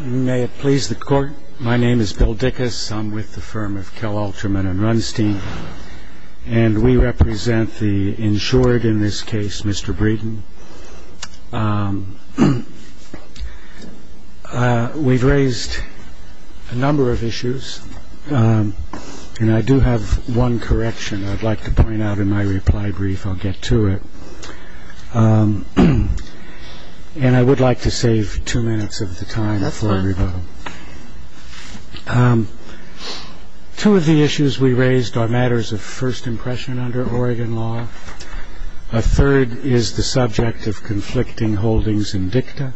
May it please the court, my name is Bill Dickus, I'm with the firm of Kel Alterman and Runstein, and we represent the insured in this case, Mr. Breeden. We've raised a number of issues, and I do have one correction I'd like to point out in my reply brief, I'll get to it. And I would like to save two minutes of the time for everybody. Two of the issues we raised are matters of first impression under Oregon law. A third is the subject of conflicting holdings in dicta,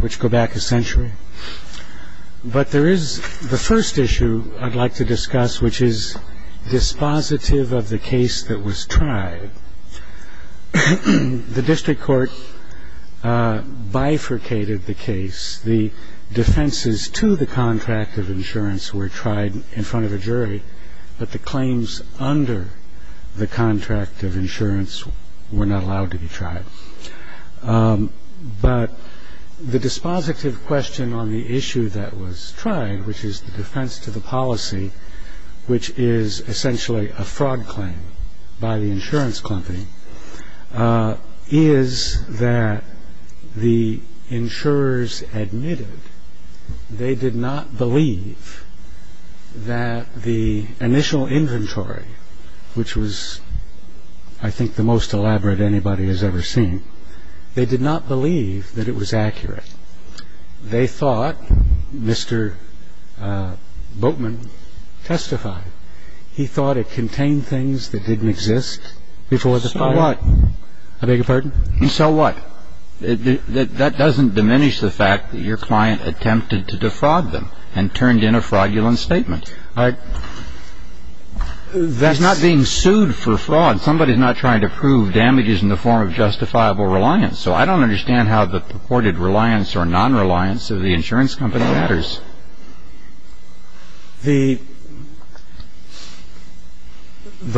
which go back a century. But there is the first issue I'd like to discuss, which is dispositive of the case that was tried. The district court bifurcated the case. The defenses to the contract of insurance were tried in front of a jury, but the claims under the contract of insurance were not allowed to be tried. But the dispositive question on the issue that was tried, which is the defense to the policy, which is essentially a fraud claim by the insurance company, is that the insurers admitted they did not believe that the initial inventory, which was, I think, the most elaborate anybody has ever seen, they did not believe that it was accurate. They thought, Mr. Boatman testified, he thought it contained things that didn't exist before the filing. So what? I beg your pardon? So what? That doesn't diminish the fact that your client attempted to defraud them and turned in a fraudulent statement. That's not being sued for fraud. Somebody's not trying to prove damages in the form of justifiable reliance. So I don't understand how the purported reliance or nonreliance of the insurance company matters. The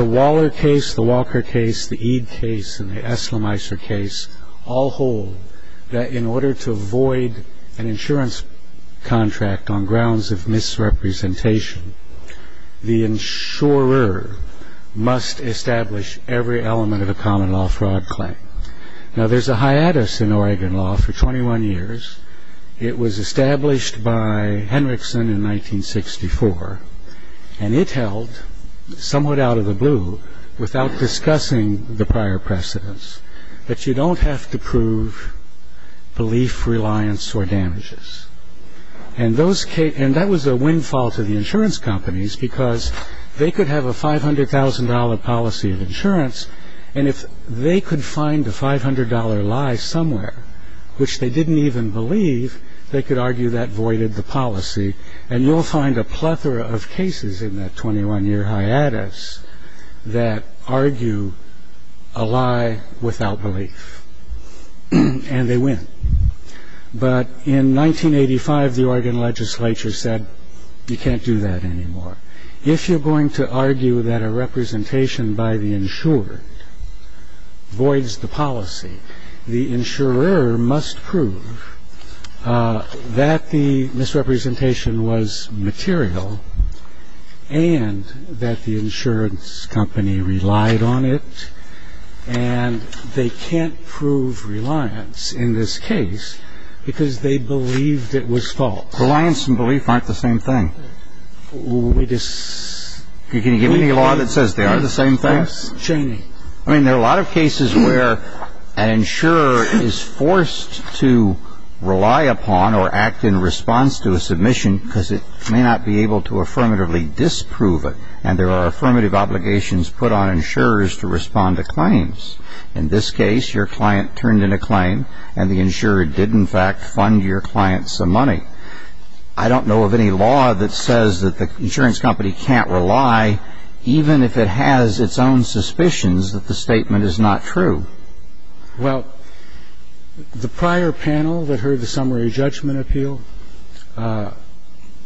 Waller case, the Walker case, the Eade case, and the Esselmeister case all hold that in order to avoid an insurance contract on grounds of misrepresentation, the insurer must establish every element of a common law fraud claim. Now, there's a hiatus in Oregon law for 21 years. It was established by Henriksen in 1964, and it held, somewhat out of the blue, without discussing the prior precedents, that you don't have to prove belief, reliance, or damages. And that was a windfall to the insurance companies because they could have a $500,000 policy of insurance, and if they could find a $500 lie somewhere, which they didn't even believe, they could argue that voided the policy. And you'll find a plethora of cases in that 21-year hiatus that argue a lie without belief, and they win. But in 1985, the Oregon legislature said, you can't do that anymore. If you're going to argue that a representation by the insured voids the policy, the insurer must prove that the misrepresentation was material and that the insurance company relied on it, and they can't prove reliance in this case because they believed it was false. Reliance and belief aren't the same thing. Can you give me a law that says they are the same thing? Yes, Cheney. I mean, there are a lot of cases where an insurer is forced to rely upon or act in response to a submission because it may not be able to affirmatively disprove it, and there are affirmative obligations put on insurers to respond to claims. In this case, your client turned in a claim, and the insurer did, in fact, fund your client some money. I don't know of any law that says that the insurance company can't rely, even if it has its own suspicions that the statement is not true. Well, the prior panel that heard the summary judgment appeal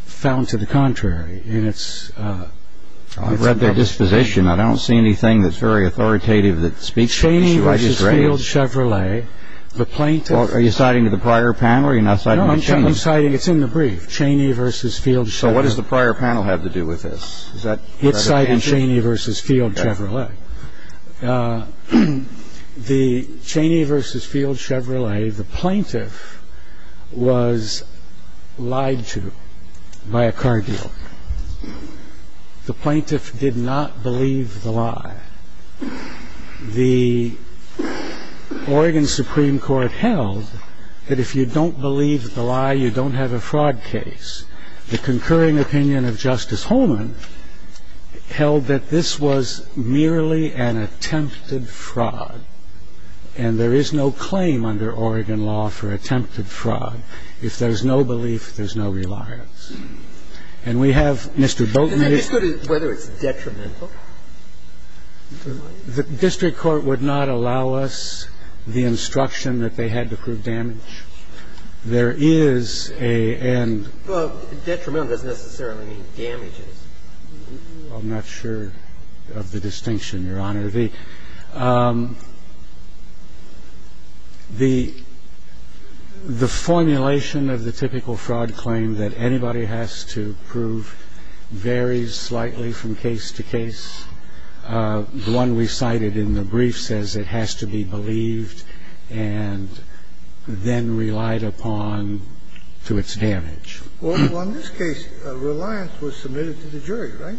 found to the contrary, and it's... I've read their disposition. I don't see anything that's very authoritative that speaks to the issue I just raised. Cheney v. Field Chevrolet, the plaintiff... Are you citing the prior panel or are you not citing Cheney? No, I'm citing the brief, Cheney v. Field Chevrolet. So what does the prior panel have to do with this? It cited Cheney v. Field Chevrolet. The Cheney v. Field Chevrolet, the plaintiff was lied to by a car dealer. The plaintiff did not believe the lie. The Oregon Supreme Court held that if you don't believe the lie, you don't have a fraud case. case. The concurring opinion of Justice Holman held that this was merely an attempted fraud, and there is no claim under Oregon law for attempted fraud. If there's no belief, there's no reliance. And we have Mr. Boatman... Well, detrimental doesn't necessarily mean damages. I'm not sure of the distinction, Your Honor. The formulation of the typical fraud claim that anybody has to prove varies slightly from case to case. The one we cited in the brief says it has to be believed and then relied upon to its damage. Well, in this case, reliance was submitted to the jury, right?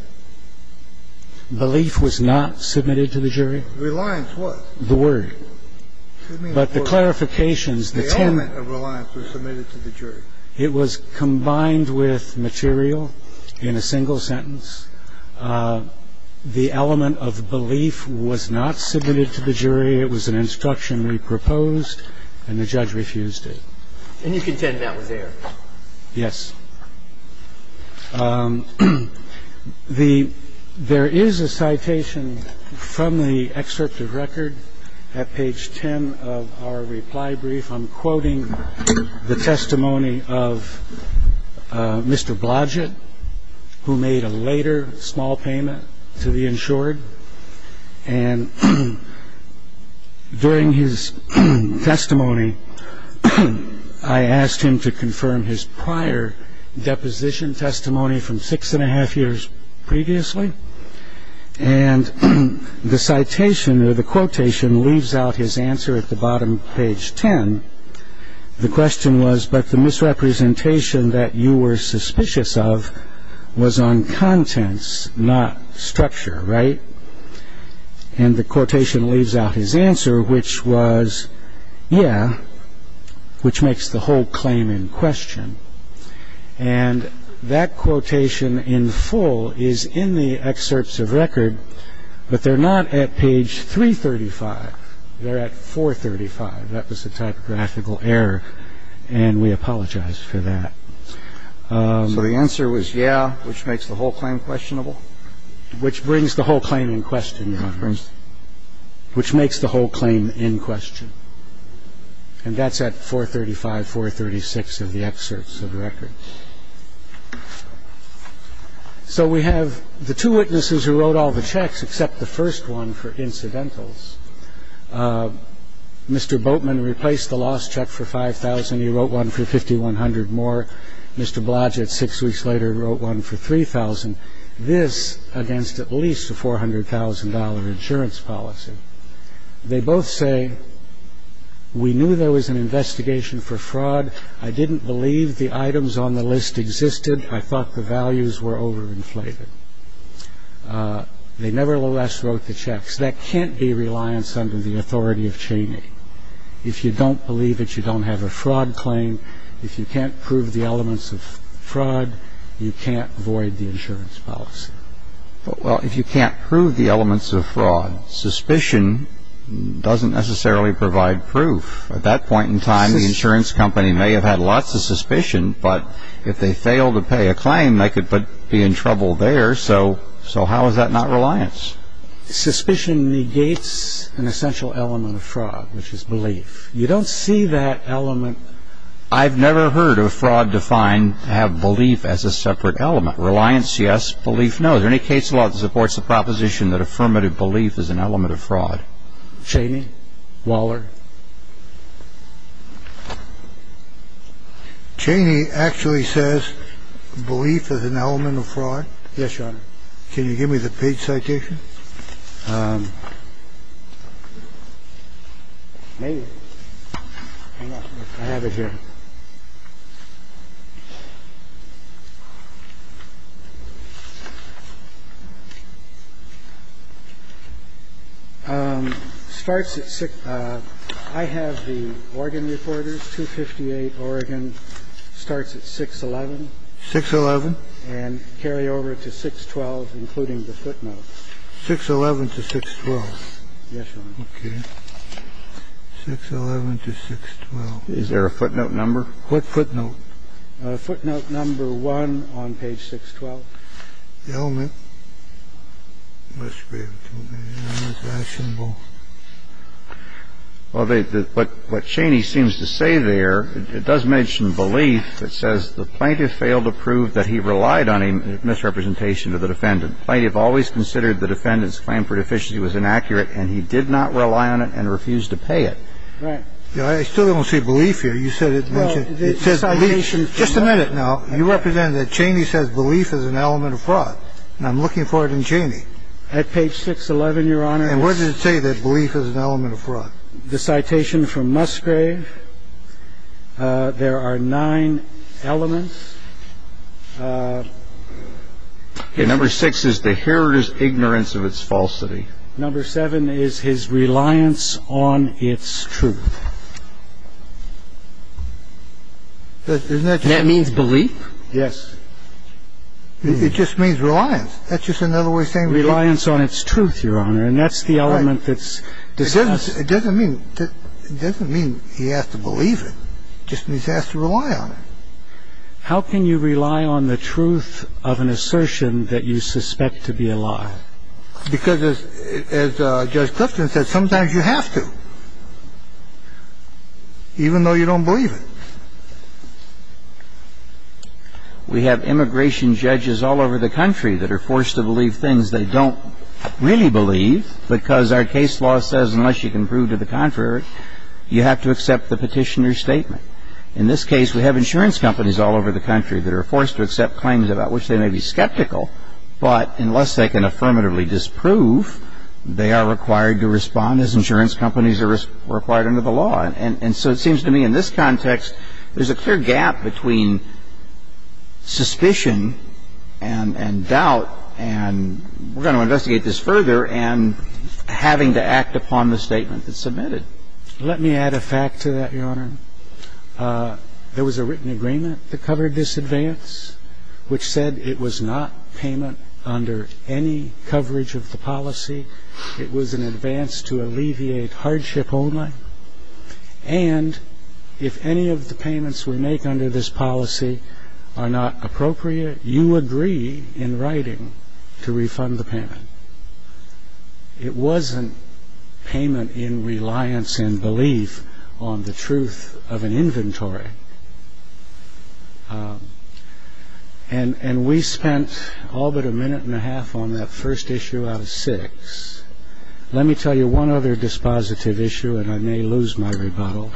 Belief was not submitted to the jury. Reliance was. The word. But the clarifications, the tenet... The element of reliance was submitted to the jury. It was combined with material in a single sentence. The element of belief was not submitted to the jury. It was an instruction we proposed, and the judge refused it. And you contend that was there? Yes. There is a citation from the excerpt of record at page 10 of our reply brief. I'm quoting the testimony of Mr. Blodgett, who made a later small payment to the insured. And during his testimony, I asked him to confirm his prior deposition testimony from six and a half years previously. And the citation or the quotation leaves out his answer at the bottom of page 10. The question was, but the misrepresentation that you were suspicious of was on contents, not structure, right? And the quotation leaves out his answer, which was, yeah, which makes the whole claim in question. And that quotation in full is in the excerpts of record, but they're not at page 335. They're at 435. That was a typographical error, and we apologize for that. So the answer was, yeah, which makes the whole claim questionable? Which brings the whole claim in question, Your Honor. Which makes the whole claim in question. And that's at 435, 436 of the excerpts of record. So we have the two witnesses who wrote all the checks, except the first one for incidentals. Mr. Boatman replaced the lost check for $5,000. He wrote one for $5,100 more. Mr. Blodgett, six weeks later, wrote one for $3,000. This against at least a $400,000 insurance policy. They both say, we knew there was an investigation for fraud. I didn't believe the items on the list existed. I thought the values were overinflated. They nevertheless wrote the checks. That can't be reliance under the authority of Cheney. If you don't believe it, you don't have a fraud claim. If you can't prove the elements of fraud, you can't void the insurance policy. Well, if you can't prove the elements of fraud, suspicion doesn't necessarily provide proof. At that point in time, the insurance company may have had lots of suspicion, but if they fail to pay a claim, they could be in trouble there. So how is that not reliance? Suspicion negates an essential element of fraud, which is belief. You don't see that element. I've never heard of fraud defined to have belief as a separate element. Reliance, yes. Belief, no. Is there any case law that supports the proposition that affirmative belief is an element of fraud? Cheney? Waller? Cheney actually says belief is an element of fraud? Yes, Your Honor. Can you give me the page citation? Maybe. Hang on. I have it here. Starts at 6 – I have the Oregon reporters, 258, Oregon. Starts at 611. 611. And carry over to 612, including the footnote. 611 to 612. Yes, Your Honor. Okay. 611 to 612. Is there a footnote number? What footnote? Footnote number one on page 612. The element. Well, what Cheney seems to say there, it does mention belief. It says the plaintiff failed to prove that he relied on a misrepresentation of the defendant. The plaintiff always considered the defendant's claim for deficiency was inaccurate and he did not rely on it and refused to pay it. Right. I still don't see belief here. You said it mentioned. It says belief. Just a minute now. You represent that Cheney says belief is an element of fraud. I'm looking for it in Cheney. At page 611, Your Honor. And where does it say that belief is an element of fraud? The citation from Musgrave. There are nine elements. Number six is the heritor's ignorance of its falsity. Number seven is his reliance on its truth. That means belief? Yes. It just means reliance. That's just another way of saying it. Reliance on its truth, Your Honor. And that's the element that's discussed. It doesn't mean he has to believe it. It just means he has to rely on it. How can you rely on the truth of an assertion that you suspect to be a lie? Because as Judge Clifton said, sometimes you have to, even though you don't believe it. We have immigration judges all over the country that are forced to believe things they don't really believe because our case law says unless you can prove to the contrary, you have to accept the petitioner's statement. In this case, we have insurance companies all over the country that are forced to accept claims about which they may be skeptical, but unless they can affirmatively disprove, they are required to respond as insurance companies are required under the law. And so it seems to me in this context, there's a clear gap between suspicion and doubt, and we're going to investigate this further, and having to act upon the statement that's submitted. Let me add a fact to that, Your Honor. There was a written agreement that covered this advance which said it was not payment under any coverage of the policy. It was an advance to alleviate hardship only, and if any of the payments we make under this policy are not appropriate, you agree in writing to refund the payment. It wasn't payment in reliance and belief on the truth of an inventory. And we spent all but a minute and a half on that first issue out of six. Let me tell you one other dispositive issue, and I may lose my rebuttal.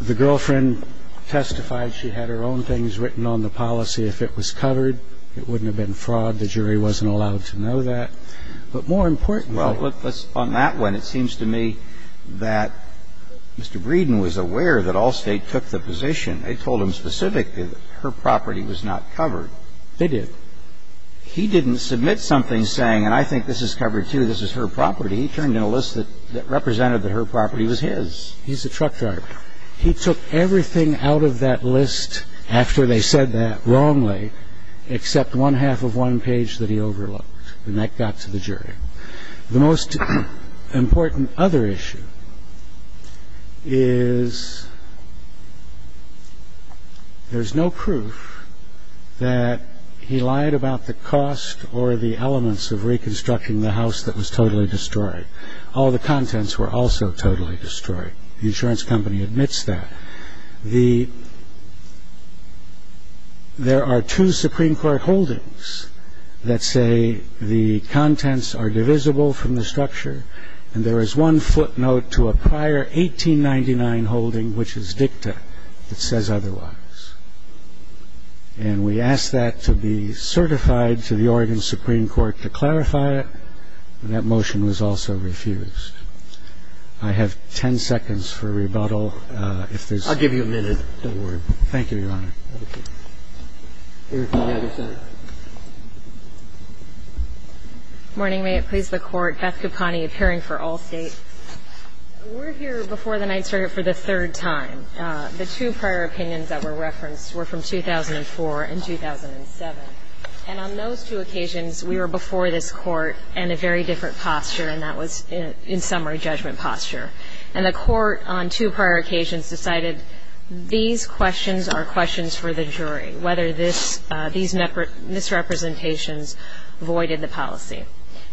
The girlfriend testified she had her own things written on the policy. If it was covered, it wouldn't have been fraud. The jury wasn't allowed to know that. But more importantly… And it seems to me that Mr. Breeden was aware that Allstate took the position. They told him specifically that her property was not covered. They did. He didn't submit something saying, and I think this is covered, too, this is her property. He turned in a list that represented that her property was his. He's a truck driver. He took everything out of that list after they said that wrongly, except one-half of one page that he overlooked, and that got to the jury. The most important other issue is there's no proof that he lied about the cost or the elements of reconstructing the house that was totally destroyed. All the contents were also totally destroyed. The insurance company admits that. There are two Supreme Court holdings that say the contents are divisible from the structure, and there is one footnote to a prior 1899 holding, which is dicta. It says otherwise. And we asked that to be certified to the Oregon Supreme Court to clarify it, and that motion was also refused. I have 10 seconds for rebuttal. I'll give you a minute. Don't worry. Thank you, Your Honor. Here's the other side. Morning. May it please the Court. Beth Caponi, appearing for all States. We're here before the Ninth Circuit for the third time. The two prior opinions that were referenced were from 2004 and 2007, and on those two occasions, we were before this Court in a very different posture, and that was in summary judgment posture. And the Court on two prior occasions decided these questions are questions for the jury, whether these misrepresentations voided the policy.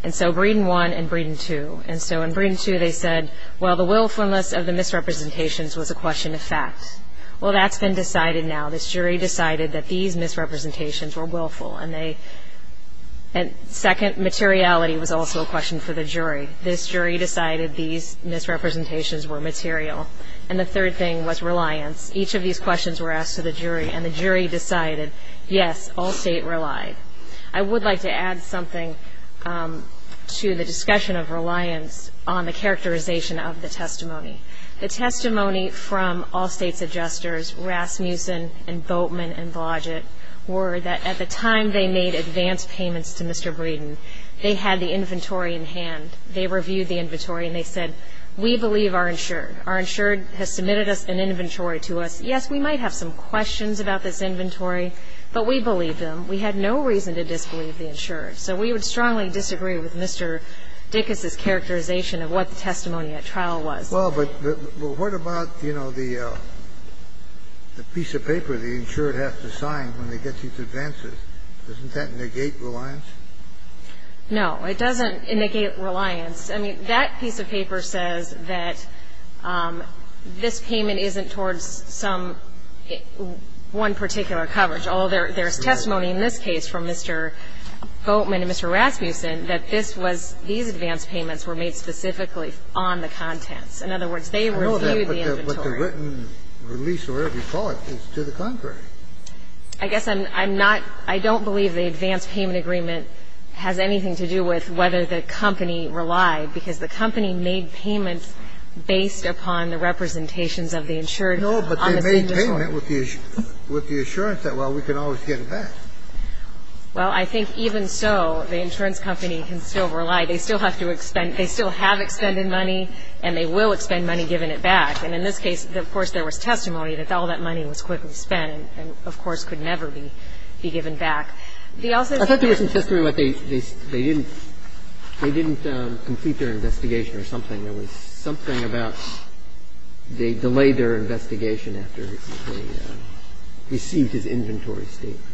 And so Breeden 1 and Breeden 2. And so in Breeden 2, they said, well, the willfulness of the misrepresentations was a question of fact. Well, that's been decided now. This jury decided that these misrepresentations were willful, and second, materiality was also a question for the jury. This jury decided these misrepresentations were material. And the third thing was reliance. Each of these questions were asked to the jury, and the jury decided, yes, all State relied. I would like to add something to the discussion of reliance on the characterization of the testimony. The testimony from all States' adjusters, Rasmussen and Boatman and Blodgett, were that at the time they made advance payments to Mr. Breeden, they had the inventory in hand. They reviewed the inventory and they said, we believe our insured. Our insured has submitted us an inventory to us. Yes, we might have some questions about this inventory, but we believe them. We had no reason to disbelieve the insured. So we would strongly disagree with Mr. Dickus's characterization of what the testimony at trial was. Well, but what about, you know, the piece of paper the insured has to sign when they get these advances? Doesn't that negate reliance? No. It doesn't negate reliance. I mean, that piece of paper says that this payment isn't towards some one particular coverage, although there's testimony in this case from Mr. Boatman and Mr. Rasmussen that this was these advance payments were made specifically on the contents. In other words, they reviewed the inventory. I know that, but the written release or whatever you call it is to the contrary. I guess I'm not – I don't believe the advance payment agreement has anything to do with whether the company relied, because the company made payments based upon the representations of the insured. No, but they made payment with the assurance that, well, we can always get it back. Well, I think even so, the insurance company can still rely. They still have to expend – they still have expended money, and they will expend money given it back. And in this case, of course, there was testimony that all that money was quickly spent and, of course, could never be given back. I thought there was some testimony that they didn't complete their investigation or something. There was something about they delayed their investigation after they received his inventory statement.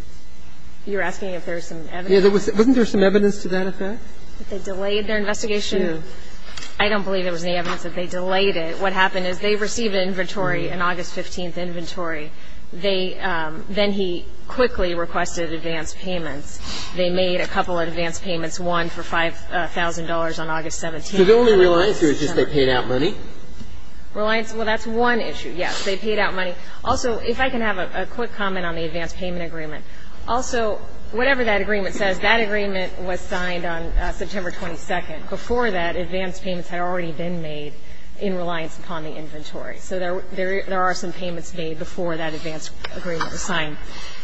You're asking if there was some evidence? Wasn't there some evidence to that effect? That they delayed their investigation? I don't believe there was any evidence that they delayed it. What happened is they received an inventory, an August 15th inventory. They – then he quickly requested advance payments. They made a couple of advance payments, one for $5,000 on August 17th. So the only reliance here is just they paid out money? Reliance – well, that's one issue, yes. They paid out money. Also, if I can have a quick comment on the advance payment agreement. Also, whatever that agreement says, that agreement was signed on September 22nd. Before that, advance payments had already been made in reliance upon the inventory. So there are some payments made before that advance agreement was signed.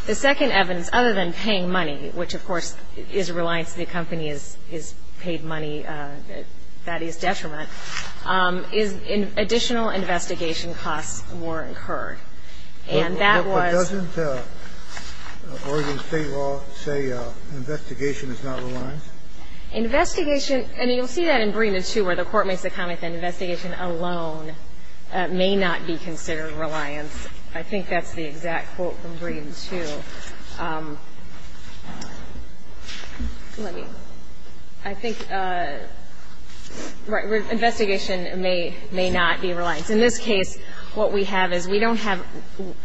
The second evidence, other than paying money, which, of course, is reliance to the company, is paid money, that is detriment, is additional investigation costs were incurred. And that was – But doesn't Oregon State law say investigation is not reliance? Investigation – and you'll see that in Breeden, too, where the court makes a comment that investigation alone may not be considered reliance. I think that's the exact quote from Breeden, too. Let me – I think investigation may not be reliance. In this case, what we have is we don't have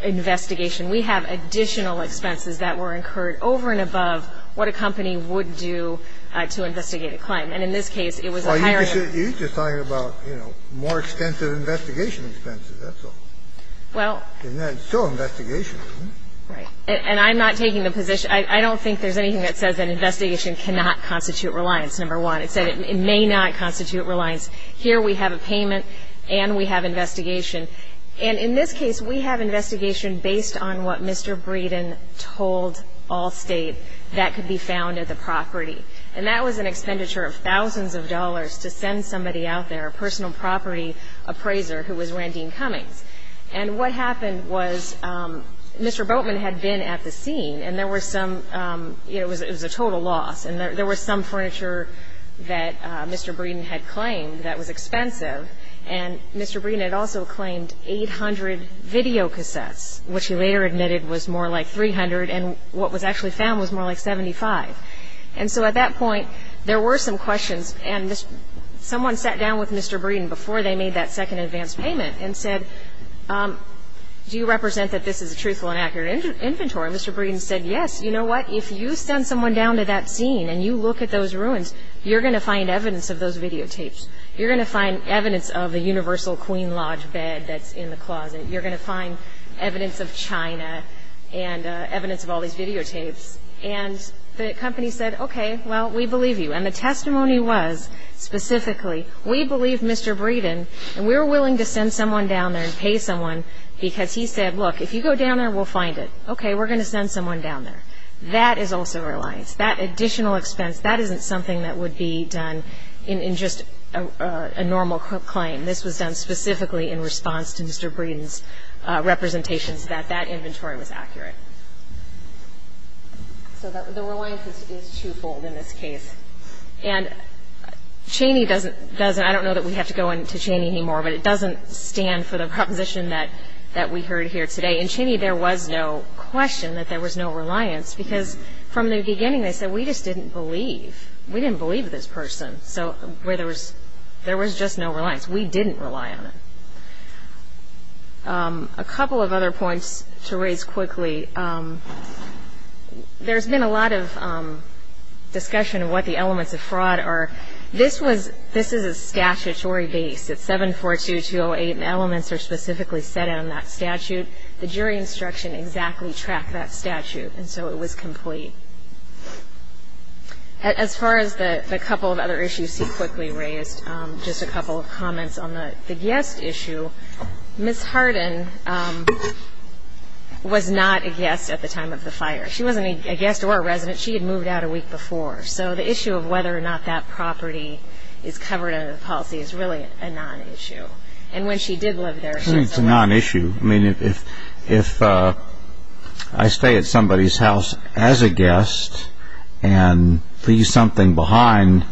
investigation. We have additional expenses that were incurred over and above what a company would do to investigate a claim. And in this case, it was a higher – Well, you're just talking about, you know, more extensive investigation expenses. That's all. Well – And that's still investigation. Right. And I'm not taking the position – I don't think there's anything that says that investigation cannot constitute reliance, number one. It said it may not constitute reliance. Here we have a payment and we have investigation. And in this case, we have investigation based on what Mr. Breeden told Allstate that could be found at the property. And that was an expenditure of thousands of dollars to send somebody out there, a personal property appraiser who was Randine Cummings. And what happened was Mr. Boatman had been at the scene and there were some – it was a total loss and there was some furniture that Mr. Breeden had claimed that was expensive. And Mr. Breeden had also claimed 800 videocassettes, which he later admitted was more like 300. And what was actually found was more like 75. And so at that point, there were some questions. And someone sat down with Mr. Breeden before they made that second advance payment and said, do you represent that this is a truthful and accurate inventory? And Mr. Breeden said, yes, you know what? If you send someone down to that scene and you look at those ruins, you're going to find evidence of those videotapes. You're going to find evidence of the Universal Queen Lodge bed that's in the closet. You're going to find evidence of China and evidence of all these videotapes. And the company said, okay, well, we believe you. And the testimony was specifically, we believe Mr. Breeden and we're willing to send someone down there and pay someone because he said, look, if you go down there, we'll find it. Okay, we're going to send someone down there. That is also a reliance. That additional expense, that isn't something that would be done in just a normal claim. This was done specifically in response to Mr. Breeden's representations that that inventory was accurate. So the reliance is twofold in this case. And Cheney doesn't, I don't know that we have to go into Cheney anymore, but it doesn't stand for the proposition that we heard here today. In Cheney, there was no question that there was no reliance because from the beginning they said, we just didn't believe. We didn't believe this person. So there was just no reliance. We didn't rely on it. A couple of other points to raise quickly. There's been a lot of discussion of what the elements of fraud are. This was, this is a statutory base. It's 742-208, and elements are specifically set in on that statute. The jury instruction exactly tracked that statute, and so it was complete. As far as the couple of other issues you quickly raised, just a couple of comments on the guest issue. Ms. Hardin was not a guest at the time of the fire. She wasn't a guest or a resident. She had moved out a week before. So the issue of whether or not that property is covered under the policy is really a non-issue. And when she did live there, she was a resident. It's a non-issue. If I stay at somebody's house as a guest and leave something behind,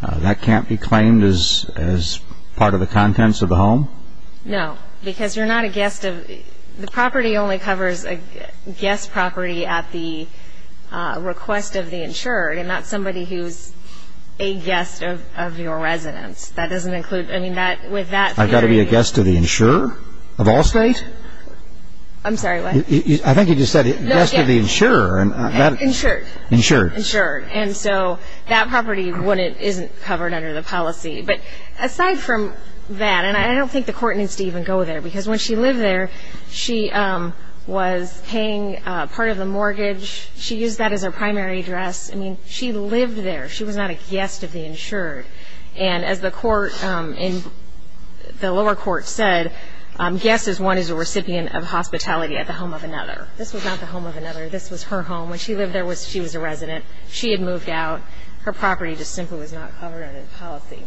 that can't be claimed as part of the contents of the home? No, because you're not a guest. The property only covers a guest property at the request of the insurer and not somebody who's a guest of your residence. That doesn't include, I mean, with that theory. I've got to be a guest to the insurer of Allstate? I'm sorry, what? I think you just said guest to the insurer. Insured. Insured. Insured. And so that property isn't covered under the policy. But aside from that, and I don't think the court needs to even go there, because when she lived there, she was paying part of the mortgage. She used that as her primary address. I mean, she lived there. She was not a guest of the insured. And as the lower court said, guest is one who is a recipient of hospitality at the home of another. This was not the home of another. This was her home. When she lived there, she was a resident. She had moved out. Her property just simply was not covered under the policy.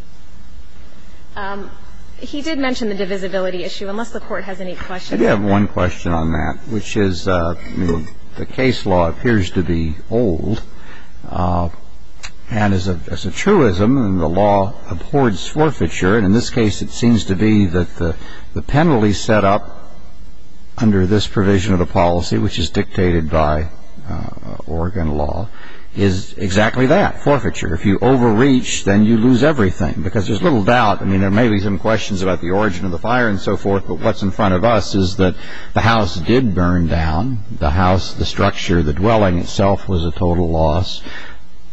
He did mention the divisibility issue. Unless the court has any questions. I do have one question on that, which is the case law appears to be old. And as a truism, the law abhors forfeiture. And in this case, it seems to be that the penalty set up under this provision of the policy, which is dictated by Oregon law, is exactly that, forfeiture. If you overreach, then you lose everything. Because there's little doubt. I mean, there may be some questions about the origin of the fire and so forth. But what's in front of us is that the house did burn down. The house, the structure, the dwelling itself was a total loss.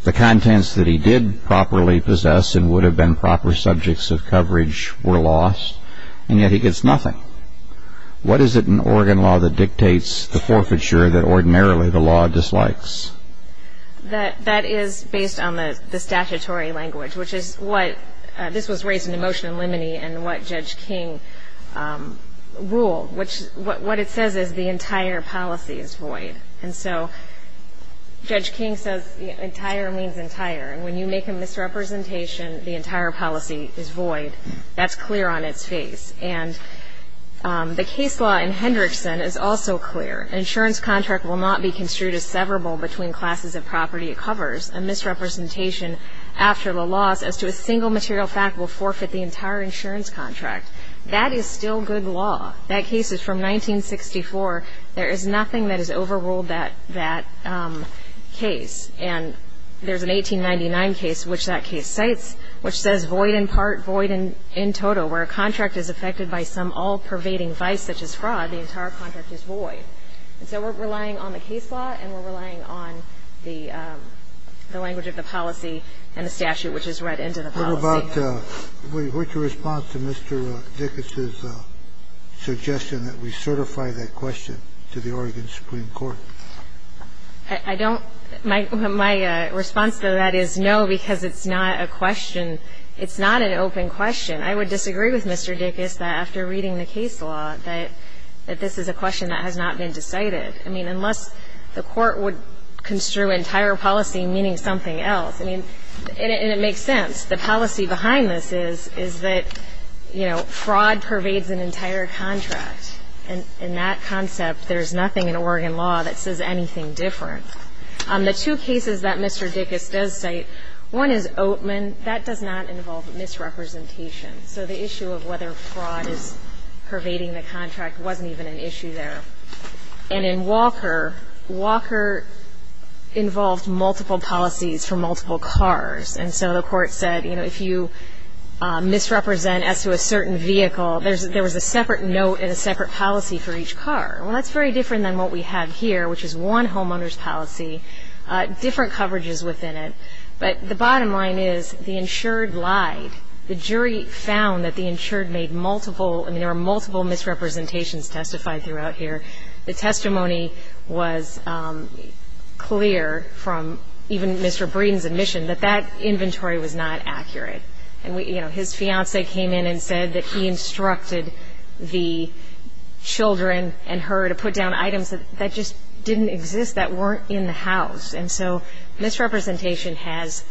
The contents that he did properly possess and would have been proper subjects of coverage were lost. And yet he gets nothing. What is it in Oregon law that dictates the forfeiture that ordinarily the law dislikes? That is based on the statutory language, which is what this was raised in the motion in Lemony and what Judge King ruled, which what it says is the entire policy is void. And so Judge King says entire means entire. And when you make a misrepresentation, the entire policy is void. That's clear on its face. And the case law in Hendrickson is also clear. An insurance contract will not be construed as severable between classes of property it covers. A misrepresentation after the loss as to a single material fact will forfeit the entire insurance contract. That is still good law. That case is from 1964. There is nothing that has overruled that case. And there's an 1899 case which that case cites, which says void in part, void in total. Where a contract is affected by some all-pervading vice such as fraud, the entire contract is void. And so we're relying on the case law and we're relying on the language of the policy and the statute which is read into the policy. We're about to respond to Mr. Dickus' suggestion that we certify that question to the Oregon Supreme Court. I don't. My response to that is no, because it's not a question. It's not an open question. I would disagree with Mr. Dickus that after reading the case law that this is a question that has not been decided. I mean, unless the Court would construe entire policy meaning something else. I mean, and it makes sense. The policy behind this is, is that, you know, fraud pervades an entire contract. And in that concept, there's nothing in Oregon law that says anything different. The two cases that Mr. Dickus does cite, one is Oatman. That does not involve misrepresentation. So the issue of whether fraud is pervading the contract wasn't even an issue there. And in Walker, Walker involved multiple policies for multiple cars. And so the Court said, you know, if you misrepresent as to a certain vehicle, there was a separate note and a separate policy for each car. Well, that's very different than what we have here, which is one homeowner's policy, different coverages within it. But the bottom line is the insured lied. The jury found that the insured made multiple, I mean, there were multiple misrepresentations testified throughout here. The testimony was clear from even Mr. Breeden's admission that that inventory was not accurate. And, you know, his fiancée came in and said that he instructed the children and her to put down items that just didn't exist, that weren't in the house. And so misrepresentation has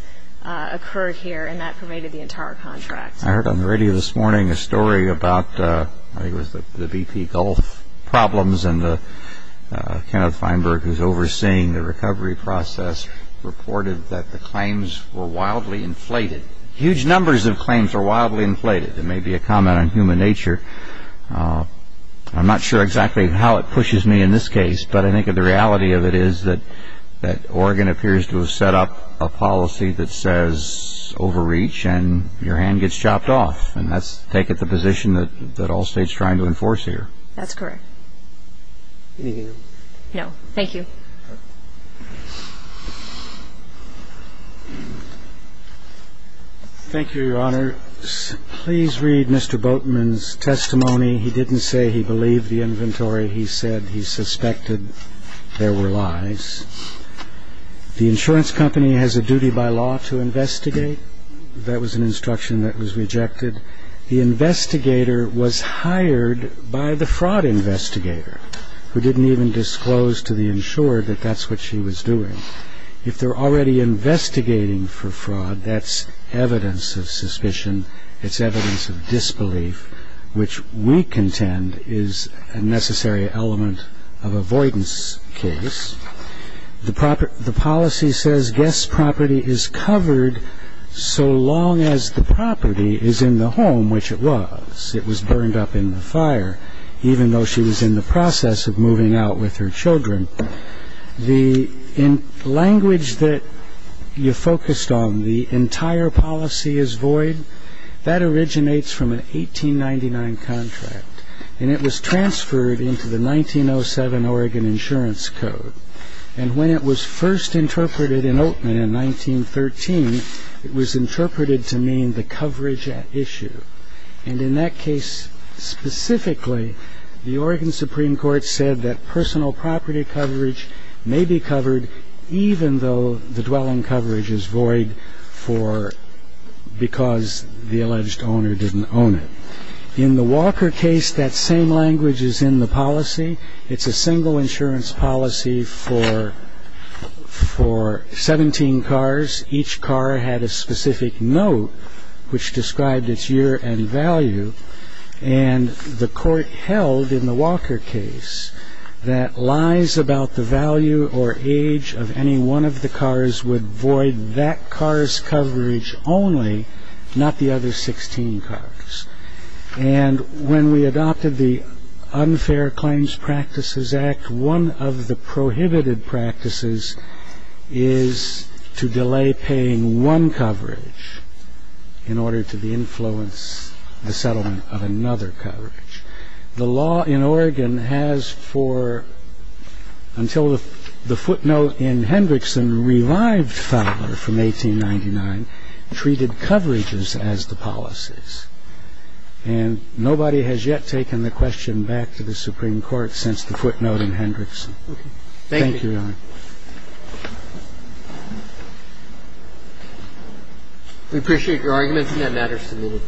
occurred here, and that pervaded the entire contract. I heard on the radio this morning a story about, I think it was the BP Gulf problems, and Kenneth Feinberg, who's overseeing the recovery process, reported that the claims were wildly inflated. Huge numbers of claims are wildly inflated. There may be a comment on human nature. I'm not sure exactly how it pushes me in this case, but I think the reality of it is that Oregon appears to have set up a policy that says overreach and your hand gets chopped off. And that's taken the position that all states are trying to enforce here. That's correct. Anything else? No. Thank you. Thank you, Your Honor. Please read Mr. Boatman's testimony. He didn't say he believed the inventory. He said he suspected there were lies. The insurance company has a duty by law to investigate. That was an instruction that was rejected. The investigator was hired by the fraud investigator, who didn't even disclose to the insurer that that's what she was doing. If they're already investigating for fraud, that's evidence of suspicion. It's evidence of disbelief, which we contend is a necessary element of avoidance case. The policy says guest property is covered so long as the property is in the home, which it was. It was burned up in the fire, even though she was in the process of moving out with her children. The language that you focused on, the entire policy is void, that originates from an 1899 contract. And it was transferred into the 1907 Oregon Insurance Code. And when it was first interpreted in Oatman in 1913, it was interpreted to mean the coverage at issue. And in that case specifically, the Oregon Supreme Court said that personal property coverage may be covered, even though the dwelling coverage is void because the alleged owner didn't own it. In the Walker case, that same language is in the policy. It's a single insurance policy for 17 cars. Each car had a specific note which described its year and value. And the court held in the Walker case that lies about the value or age of any one of the cars would void that car's coverage only, not the other 16 cars. And when we adopted the Unfair Claims Practices Act, one of the prohibited practices is to delay paying one coverage in order to influence the settlement of another coverage. The law in Oregon has for until the footnote in Hendrickson revived Fowler from 1899, treated coverages as the policies. And nobody has yet taken the question back to the Supreme Court since the footnote in Hendrickson. We appreciate your arguments, and that matters to me.